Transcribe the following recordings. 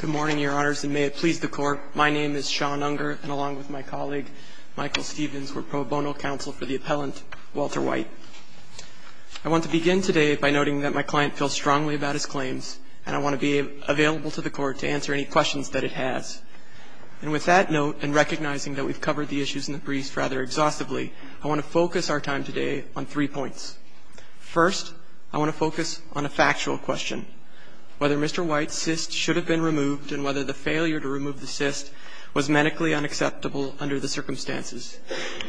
Good morning, Your Honors, and may it please the Court, my name is Sean Unger, and along with my colleague, Michael Stevens, we're pro bono counsel for the appellant, Walter White. I want to begin today by noting that my client feels strongly about his claims, and I want to be available to the Court to answer any questions that it has. And with that note, and recognizing that we've covered the issues in the brief rather exhaustively, I want to focus our time today on three points. First, I want to focus on a factual question, whether Mr. White's cyst should have been removed and whether the failure to remove the cyst was medically unacceptable under the circumstances.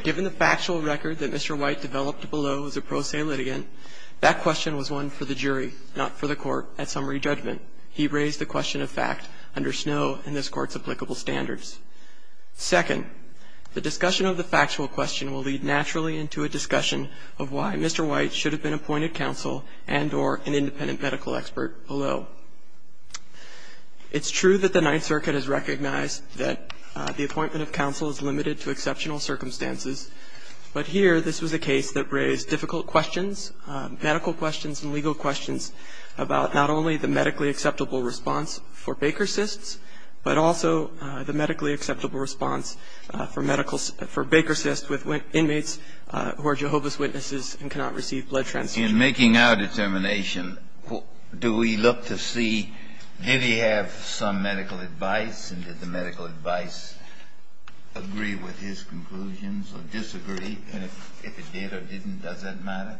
Given the factual record that Mr. White developed below as a pro se litigant, that question was one for the jury, not for the Court at summary judgment. He raised the question of fact under Snow and this Court's applicable standards. Second, the discussion of the factual question will lead naturally into a discussion of why Mr. White should have been appointed counsel and or an independent medical expert below. It's true that the Ninth Circuit has recognized that the appointment of counsel is limited to exceptional circumstances, but here this was a case that raised difficult questions, medical questions and legal questions, about not only the medically acceptable response for Baker cysts, but also the medically acceptable response for medical for Baker cysts with inmates who are Jehovah's Witnesses and cannot receive blood transfusions. Kennedy, in making our determination, do we look to see, did he have some medical advice and did the medical advice agree with his conclusions or disagree? And if it did or didn't, does that matter?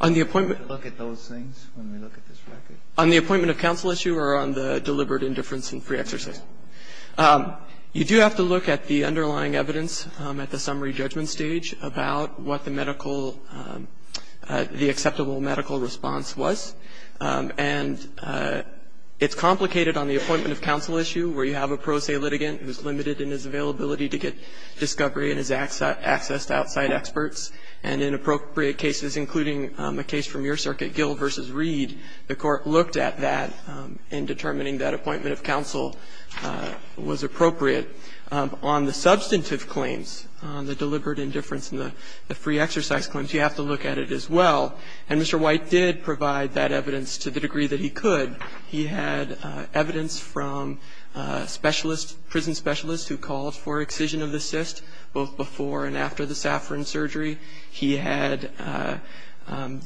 On the appointment? Do we look at those things when we look at this record? On the appointment of counsel issue or on the deliberate indifference in free exercise? You do have to look at the underlying evidence at the summary judgment stage about what the medical, the acceptable medical response was. And it's complicated on the appointment of counsel issue where you have a pro se litigant who is limited in his availability to get discovery and his access to outside experts, and in appropriate cases, including a case from your circuit, Gill v. Reed, the Court looked at that in determining that appointment of counsel was appropriate. On the substantive claims, on the deliberate indifference and the free exercise claims, you have to look at it as well. And Mr. White did provide that evidence to the degree that he could. He had evidence from specialists, prison specialists who called for excision of the cyst both before and after the Saffron surgery. He had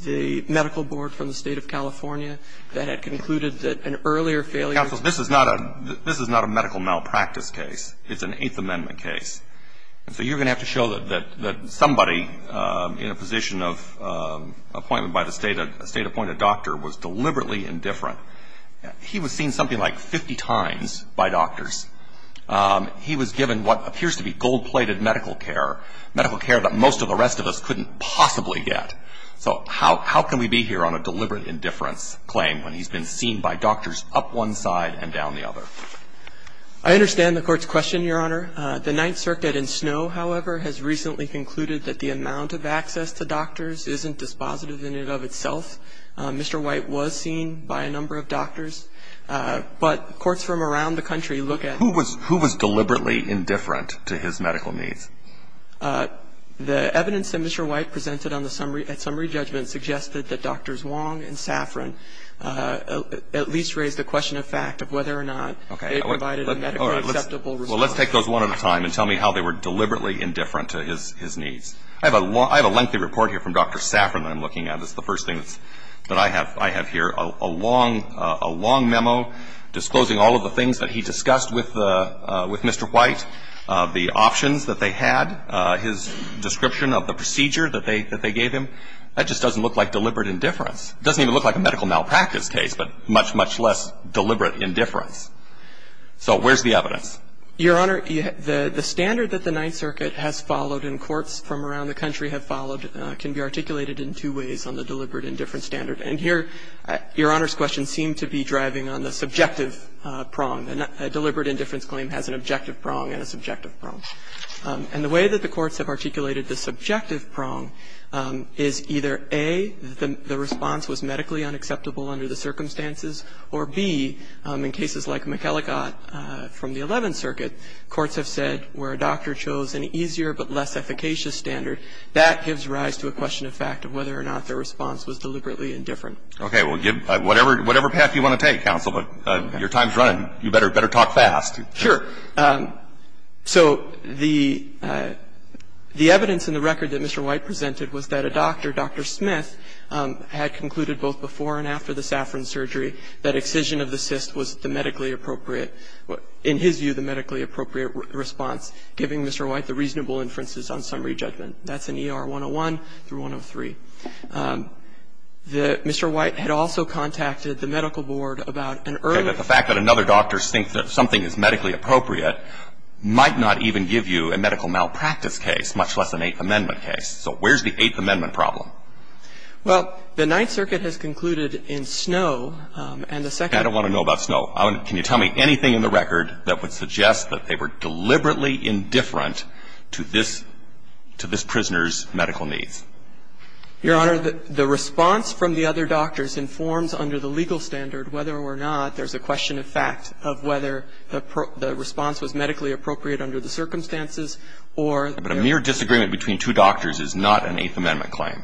the medical board from the State of California that had concluded that an earlier failure of the system. Counsel, this is not a medical malpractice case. It's an Eighth Amendment case. And so you're going to have to show that somebody in a position of appointment by the State appointed doctor was deliberately indifferent. He was seen something like 50 times by doctors. He was given what appears to be gold-plated medical care, medical care that most of the rest of us couldn't possibly get. So how can we be here on a deliberate indifference claim when he's been seen by doctors up one side and down the other? I understand the Court's question, Your Honor. The Ninth Circuit in Snow, however, has recently concluded that the amount of access to doctors isn't dispositive in and of itself. Mr. White was seen by a number of doctors. But courts from around the country look at his medical needs. Who was deliberately indifferent to his medical needs? The evidence that Mr. White presented at summary judgment suggested that Drs. Wong and Saffron at least raised the question of fact of whether or not they provided a medically acceptable response. Well, let's take those one at a time and tell me how they were deliberately indifferent to his needs. I have a lengthy report here from Dr. Saffron that I'm looking at. It's the first thing that I have here, a long memo disclosing all of the things that he discussed with Mr. White, the options that they had, his description of the procedure that they gave him. That just doesn't look like deliberate indifference. It doesn't even look like a medical malpractice case, but much, much less deliberate indifference. So where's the evidence? Your Honor, the standard that the Ninth Circuit has followed and courts from around the country have followed can be articulated in two ways on the deliberate indifference standard. And here, Your Honor's question seemed to be driving on the subjective prong. A deliberate indifference claim has an objective prong and a subjective prong. And the way that the courts have articulated the subjective prong is either, A, the response was medically unacceptable under the circumstances, or, B, in cases like McElligott from the Eleventh Circuit, courts have said where a doctor chose an easier but less efficacious standard, that gives rise to a question of fact of whether or not their response was deliberately indifferent. Okay. Well, give whatever path you want to take, counsel, but your time's running. You better talk fast. Sure. So the evidence in the record that Mr. White presented was that a doctor, Dr. Smith, had concluded both before and after the Saffron surgery that excision of the cyst was the medically appropriate, in his view, the medically appropriate response, giving Mr. White the reasonable inferences on summary judgment. That's in ER 101 through 103. The Mr. White had also contacted the medical board about an earlier. Okay. But the fact that another doctor thinks that something is medically appropriate might not even give you a medical malpractice case, much less an Eighth Amendment case. So where's the Eighth Amendment problem? Well, the Ninth Circuit has concluded in Snow and the Second. I don't want to know about Snow. Can you tell me anything in the record that would suggest that they were deliberately indifferent to this prisoner's medical needs? Your Honor, the response from the other doctors informs under the legal standard whether or not there's a question of fact of whether the response was medically appropriate under the circumstances or there was. But a mere disagreement between two doctors is not an Eighth Amendment claim.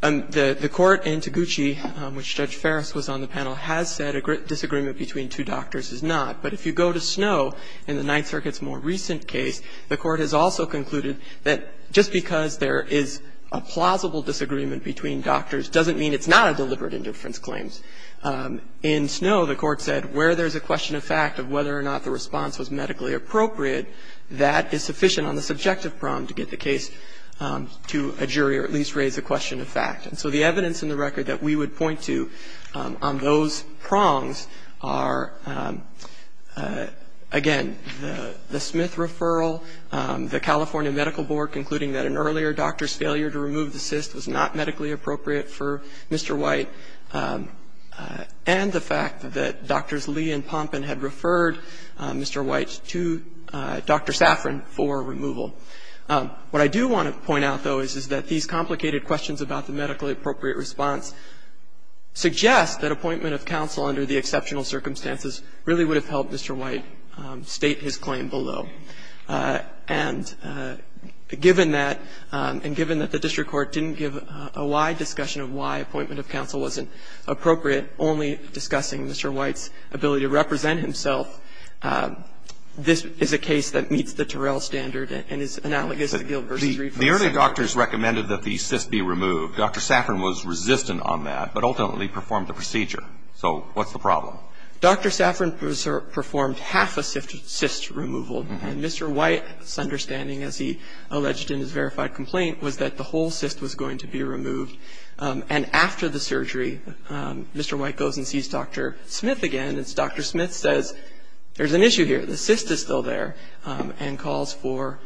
The Court in Taguchi, which Judge Ferris was on the panel, has said a disagreement between two doctors is not. But if you go to Snow in the Ninth Circuit's more recent case, the Court has also concluded that just because there is a plausible disagreement between doctors doesn't mean it's not a deliberate indifference claim. In Snow, the Court said where there's a question of fact of whether or not the response was medically appropriate, that is sufficient on the subjective problem to get the case to a jury or at least raise a question of fact. And so the evidence in the record that we would point to on those prongs are, again, the Smith referral, the California Medical Board concluding that an earlier doctor's failure to remove the cyst was not medically appropriate for Mr. White, and the fact that Drs. Lee and Pompen had referred Mr. White to Dr. Safran for removal. What I do want to point out, though, is that these complicated questions about the medically appropriate response suggest that appointment of counsel under the exceptional circumstances really would have helped Mr. White state his claim below. And given that, and given that the district court didn't give a wide discussion of why appointment of counsel wasn't appropriate, only discussing Mr. White's ability to represent himself, this is a case that meets the Terrell standard and is analogous to Gill v. Riefers. The earlier doctors recommended that the cyst be removed. Dr. Safran was resistant on that, but ultimately performed the procedure. So what's the problem? Dr. Safran performed half a cyst removal. And Mr. White's understanding, as he alleged in his verified complaint, was that the whole cyst was going to be removed. And after the surgery, Mr. White goes and sees Dr. Smith again. And Dr. Smith says, there's an issue here. The cyst is still there, and calls for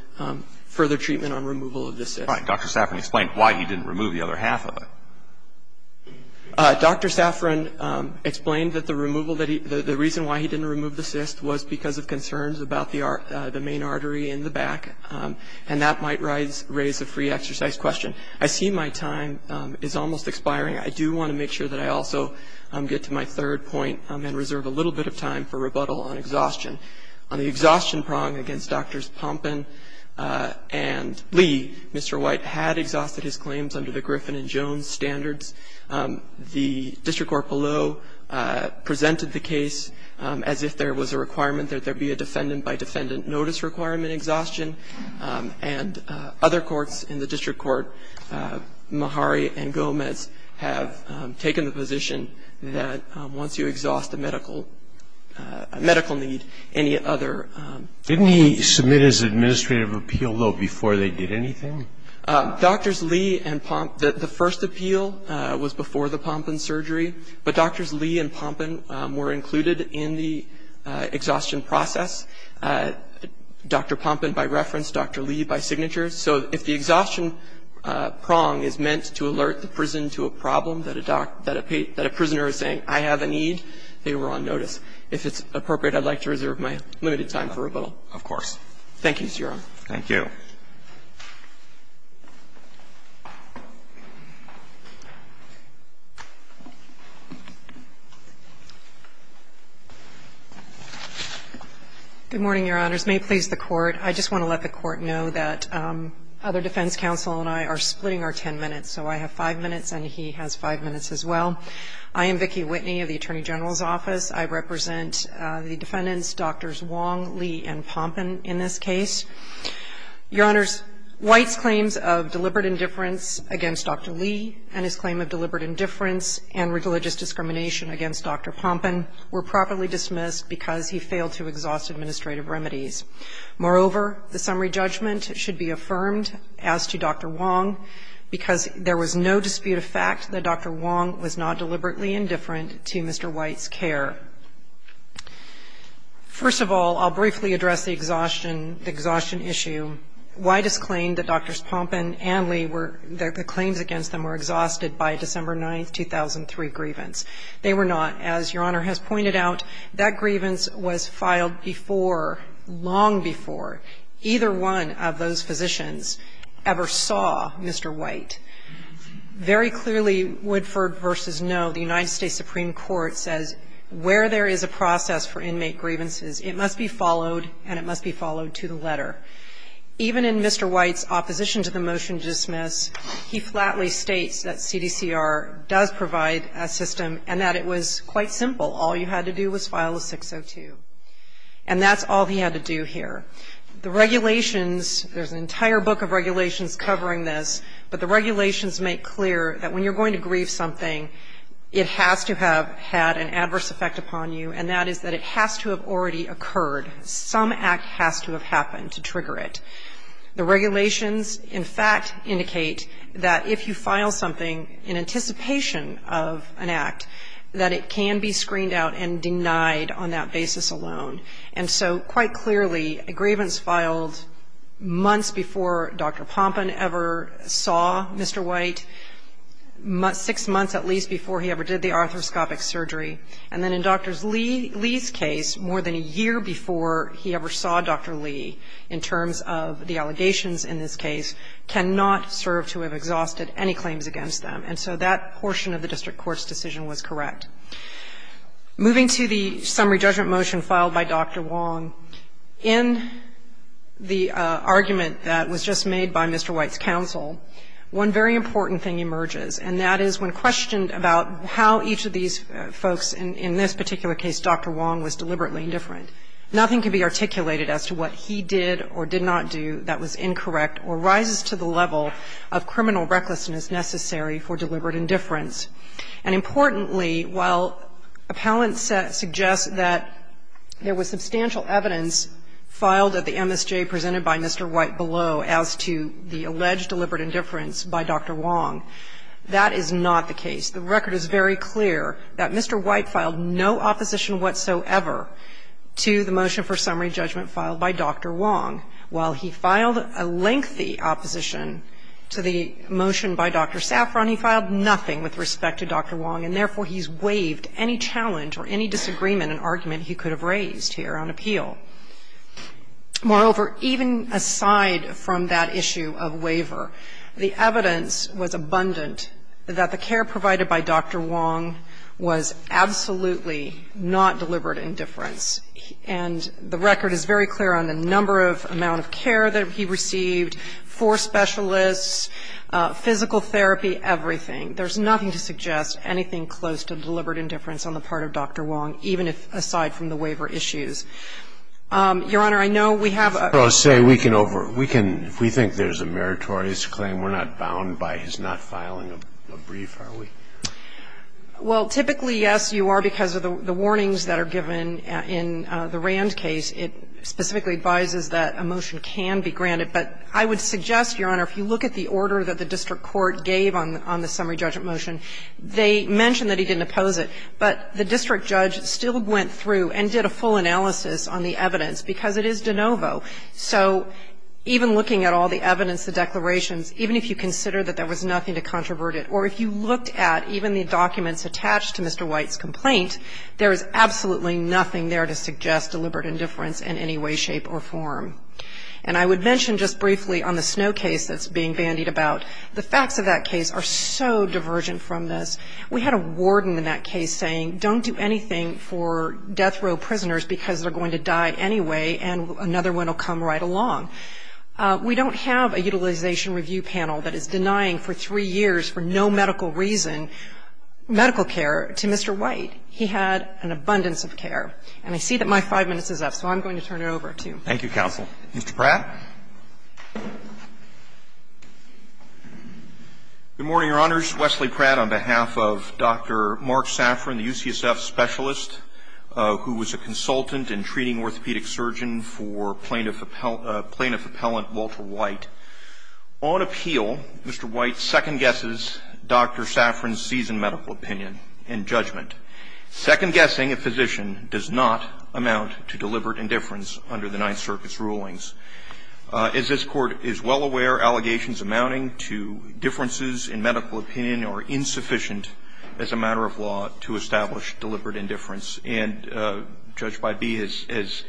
further treatment on removal of the cyst. Right. Dr. Safran explained why he didn't remove the other half of it. Dr. Safran explained that the removal that he – the reason why he didn't remove the cyst was because of concerns about the main artery in the back, and that might raise a free exercise question. I see my time is almost expiring. I do want to make sure that I also get to my third point and reserve a little bit of time for rebuttal on exhaustion. On the exhaustion prong against Drs. Pompin and Lee, Mr. White had exhausted his claims under the Griffin and Jones standards. The district court below presented the case as if there was a requirement that there be a defendant-by-defendant notice requirement exhaustion. And other courts in the district court, Mahari and Gomez, have taken the position that once you exhaust a medical – a medical need, any other – Didn't he submit his administrative appeal, though, before they did anything? Drs. Lee and – the first appeal was before the Pompin surgery, but Drs. Lee and Pompin were included in the exhaustion process. Dr. Pompin by reference, Dr. Lee by signature. So if the exhaustion prong is meant to alert the prison to a problem that a doctor – that a prisoner is saying, I have a need, they were on notice. If it's appropriate, I'd like to reserve my limited time for rebuttal. Of course. Thank you, Your Honor. Thank you. Good morning, Your Honors. May it please the Court. I just want to let the Court know that other defense counsel and I are splitting our 10 minutes, so I have 5 minutes and he has 5 minutes as well. I am Vicki Whitney of the Attorney General's office. I represent the defendants, Drs. Wong, Lee, and Pompin in this case. Your Honors, White's claims of deliberate indifference against Dr. Lee and his claim of deliberate indifference and religious discrimination against Dr. Pompin were properly dismissed because he failed to exhaust administrative remedies. Moreover, the summary judgment should be affirmed as to Dr. Wong because there was no dispute of fact that Dr. Wong was not deliberately indifferent to Mr. White's care. First of all, I'll briefly address the exhaustion issue. White has claimed that Drs. Pompin and Lee were – the claims against them were exhausted by December 9, 2003 grievance. They were not. As Your Honor has pointed out, that grievance was filed before, long before, either one of those physicians ever saw Mr. White. Very clearly, Woodford v. Noe, the United States Supreme Court says where there is a process for inmate grievances, it must be followed and it must be followed to the letter. Even in Mr. White's opposition to the motion to dismiss, he flatly states that CDCR does provide a system and that it was quite simple. All you had to do was file a 602. And that's all he had to do here. The regulations, there's an entire book of regulations covering this, but the regulations make clear that when you're going to grieve something, it has to have had an adverse effect upon you, and that is that it has to have already occurred. Some act has to have happened to trigger it. The regulations, in fact, indicate that if you file something in anticipation of an act, that it can be screened out and denied on that basis alone. And so quite clearly, a grievance filed months before Dr. Pompin ever saw Mr. White, six months at least before he ever did the arthroscopic surgery. And then in Dr. Lee's case, more than a year before he ever saw Dr. Lee in terms of the allegations in this case, cannot serve to have exhausted any claims against them. And so that portion of the district court's decision was correct. Moving to the summary judgment motion filed by Dr. Wong, in the argument that was just made by Mr. White's counsel, one very important thing emerges, and that is when questioned about how each of these folks in this particular case, Dr. Wong, was deliberately indifferent, nothing can be articulated as to what he did or did not do that was incorrect or rises to the level of criminal recklessness necessary for deliberate indifference. And importantly, while appellants suggest that there was substantial evidence filed at the MSJ presented by Mr. White below as to the alleged deliberate indifference by Dr. Wong, that is not the case. The record is very clear that Mr. White filed no opposition whatsoever to the motion for summary judgment filed by Dr. Wong. While he filed a lengthy opposition to the motion by Dr. Saffron, he filed nothing with respect to Dr. Wong, and therefore he's waived any challenge or any disagreement and argument he could have raised here on appeal. Moreover, even aside from that issue of waiver, the evidence was abundant that the care provided by Dr. Wong was absolutely not deliberate indifference, and the record is very clear on the number of amount of care that he received, four specialists, physical therapy, everything. There's nothing to suggest anything close to deliberate indifference on the part of Dr. Wong, even if aside from the waiver issues. Your Honor, I know we have a question. Scalia, if we think there's a meritorious claim, we're not bound by his not filing a brief, are we? Well, typically, yes, you are, because of the warnings that are given in the Rand case. It specifically advises that a motion can be granted. But I would suggest, Your Honor, if you look at the order that the district court gave on the summary judgment motion, they mention that he didn't oppose it, but the district judge still went through and did a full analysis on the evidence, because it is de novo. So even looking at all the evidence, the declarations, even if you consider that there was nothing to controvert it, or if you looked at even the documents attached to Mr. White's complaint, there is absolutely nothing there to suggest deliberate indifference in any way, shape, or form. And I would mention just briefly on the Snow case that's being bandied about, the facts of that case are so divergent from this. We had a warden in that case saying, don't do anything for death row prisoners because they're going to die anyway, and another one will come right along. We don't have a utilization review panel that is denying for three years for no medical reason medical care to Mr. White. He had an abundance of care. And I see that my five minutes is up, so I'm going to turn it over to you. Thank you, counsel. Mr. Pratt. Good morning, Your Honors. Wesley Pratt on behalf of Dr. Mark Safran, the UCSF specialist, who was a consultant in treating orthopedic surgeons for plaintiff appellant Walter White. On appeal, Mr. White second guesses Dr. Safran's seasoned medical opinion and judgment. Second guessing a physician does not amount to deliberate indifference under the Ninth Circuit's rulings. As this Court is well aware, allegations amounting to differences in medical opinion are insufficient as a matter of law to establish deliberate indifference. And Judge Bybee has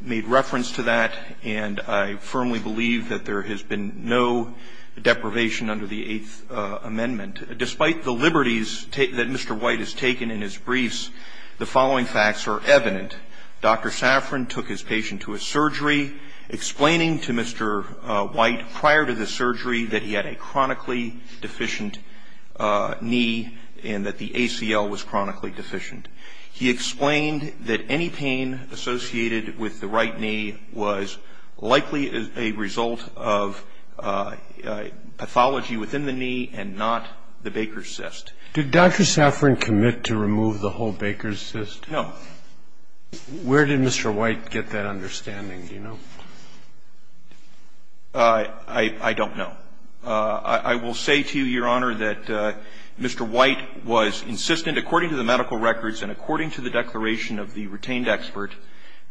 made reference to that. And I firmly believe that there has been no deprivation under the Eighth Amendment. Despite the liberties that Mr. White has taken in his briefs, the following facts are evident. Dr. Safran took his patient to a surgery, explaining to Mr. White prior to the surgery that he had a chronically deficient knee and that the ACL was chronically deficient. He explained that any pain associated with the right knee was likely a result of pathology within the knee and not the Baker's cyst. Did Dr. Safran commit to remove the whole Baker's cyst? No. Where did Mr. White get that understanding? Do you know? I don't know. I will say to you, Your Honor, that Mr. White was insistent, according to the medical records and according to the declaration of the retained expert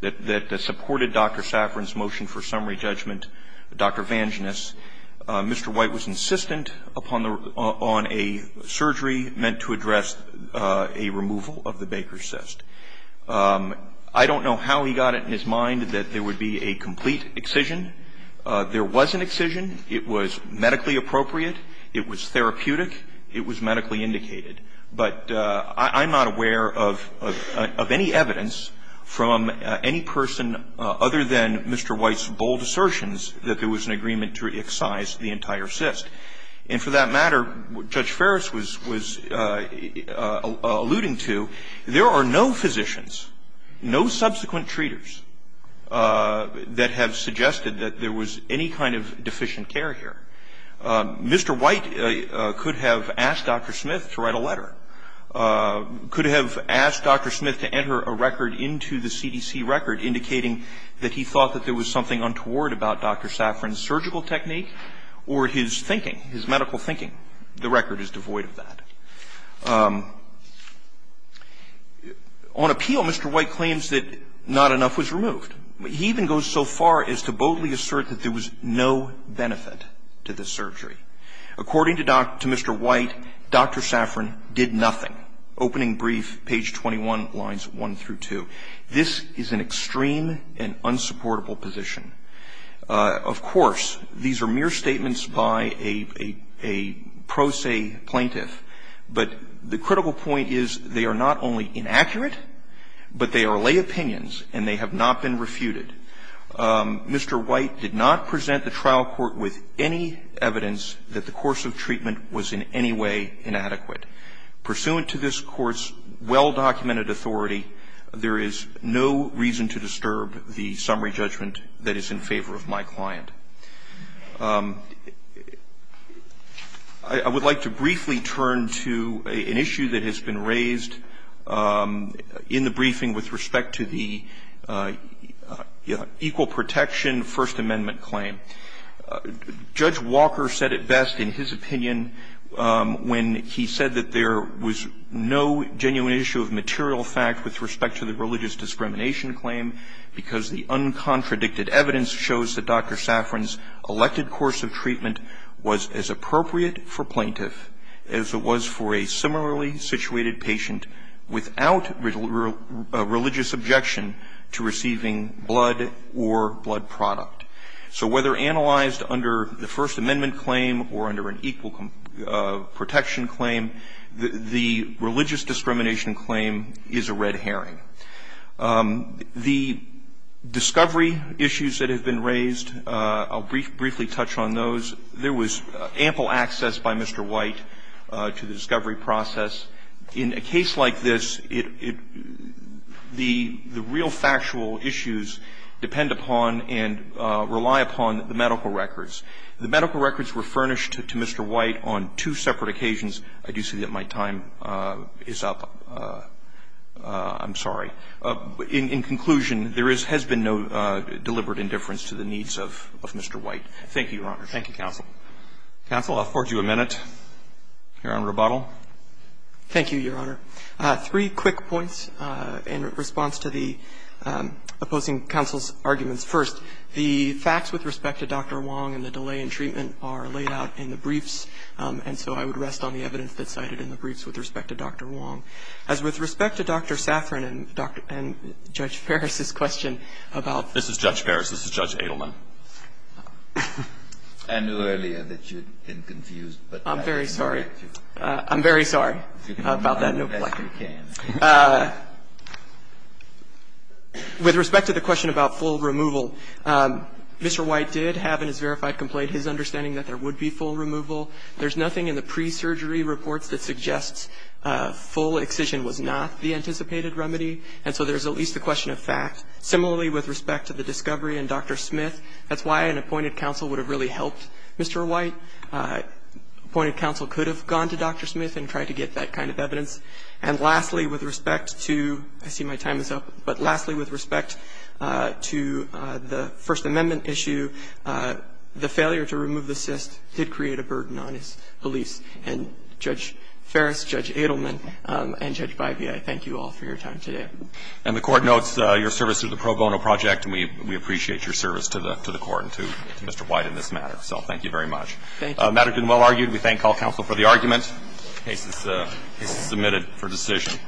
that supported Dr. Safran's motion for summary judgment, Dr. Vangenis, Mr. White was insistent upon a surgery meant to address a removal of the Baker's cyst. I don't know how he got it in his mind that there would be a complete excision. There was an excision. It was medically appropriate. It was therapeutic. It was medically indicated. But I'm not aware of any evidence from any person other than Mr. White's bold assertions that there was an agreement to excise the entire cyst. And for that matter, Judge Ferris was alluding to, there are no physicians, no subsequent treaters, that have suggested that there was any kind of deficient care here. Mr. White could have asked Dr. Smith to write a letter, could have asked Dr. Smith to enter a record into the CDC record indicating that he thought that there was something untoward about Dr. Safran's surgical technique or his thinking, his medical thinking. The record is devoid of that. On appeal, Mr. White claims that not enough was removed. He even goes so far as to boldly assert that there was no benefit to the surgery. According to Dr. Mr. White, Dr. Safran did nothing. Opening brief, page 21, lines 1 through 2. This is an extreme and unsupportable position. Of course, these are mere statements by a pro se plaintiff. But the critical point is they are not only inaccurate, but they are lay opinions and they have not been refuted. Mr. White did not present the trial court with any evidence that the course of treatment was in any way inadequate. Pursuant to this Court's well-documented authority, there is no reason to disturb the summary judgment that is in favor of my client. I would like to briefly turn to an issue that has been raised in the briefing with respect to the equal protection First Amendment claim. Judge Walker said it best in his opinion when he said that there was no genuine issue of material fact with respect to the religious discrimination claim because the uncontradicted evidence shows that Dr. Safran's elected course of treatment was as appropriate for plaintiff as it was for a similarly situated patient without religious objection to receiving blood or blood product. So whether analyzed under the First Amendment claim or under an equal protection claim, the religious discrimination claim is a red herring. The discovery issues that have been raised, I'll briefly touch on those. There was ample access by Mr. White to the discovery process. In a case like this, the real factual issues depend upon and rely upon the medical records. The medical records were furnished to Mr. White on two separate occasions. I do see that my time is up. I'm sorry. In conclusion, there has been no deliberate indifference to the needs of Mr. White. Thank you, Your Honors. Roberts. Roberts. Thank you, counsel. Counsel, I'll afford you a minute here on rebuttal. Thank you, Your Honor. Three quick points in response to the opposing counsel's arguments. First, the facts with respect to Dr. Wong and the delay in treatment are laid out in the briefs, and so I would rest on the evidence that's cited in the briefs with respect to Dr. Wong. As with respect to Dr. Safran and Judge Ferris' question about the need for the full removal, Mr. White did have in his verified complaint his understanding that there would be full removal. There's nothing in the pre-surgery reports that suggests full excision was not the anticipated remedy, and so there's at least the question of fact. Similarly, with respect to the discovery and Dr. Smith, that's why an appointed counsel would have really helped Mr. White. Second, appointed counsel could have gone to Dr. Smith and tried to get that kind of evidence. And lastly, with respect to the First Amendment issue, the failure to remove the cyst did create a burden on his police. And, Judge Ferris, Judge Adelman, and Judge Baivia, I thank you all for your time today. And the Court notes your service to the Pro Bono Project, and we appreciate your service to the Court and to Mr. White in this matter. So thank you very much. Thank you. The matter has been well argued. We thank all counsel for the argument. The case is submitted for decision.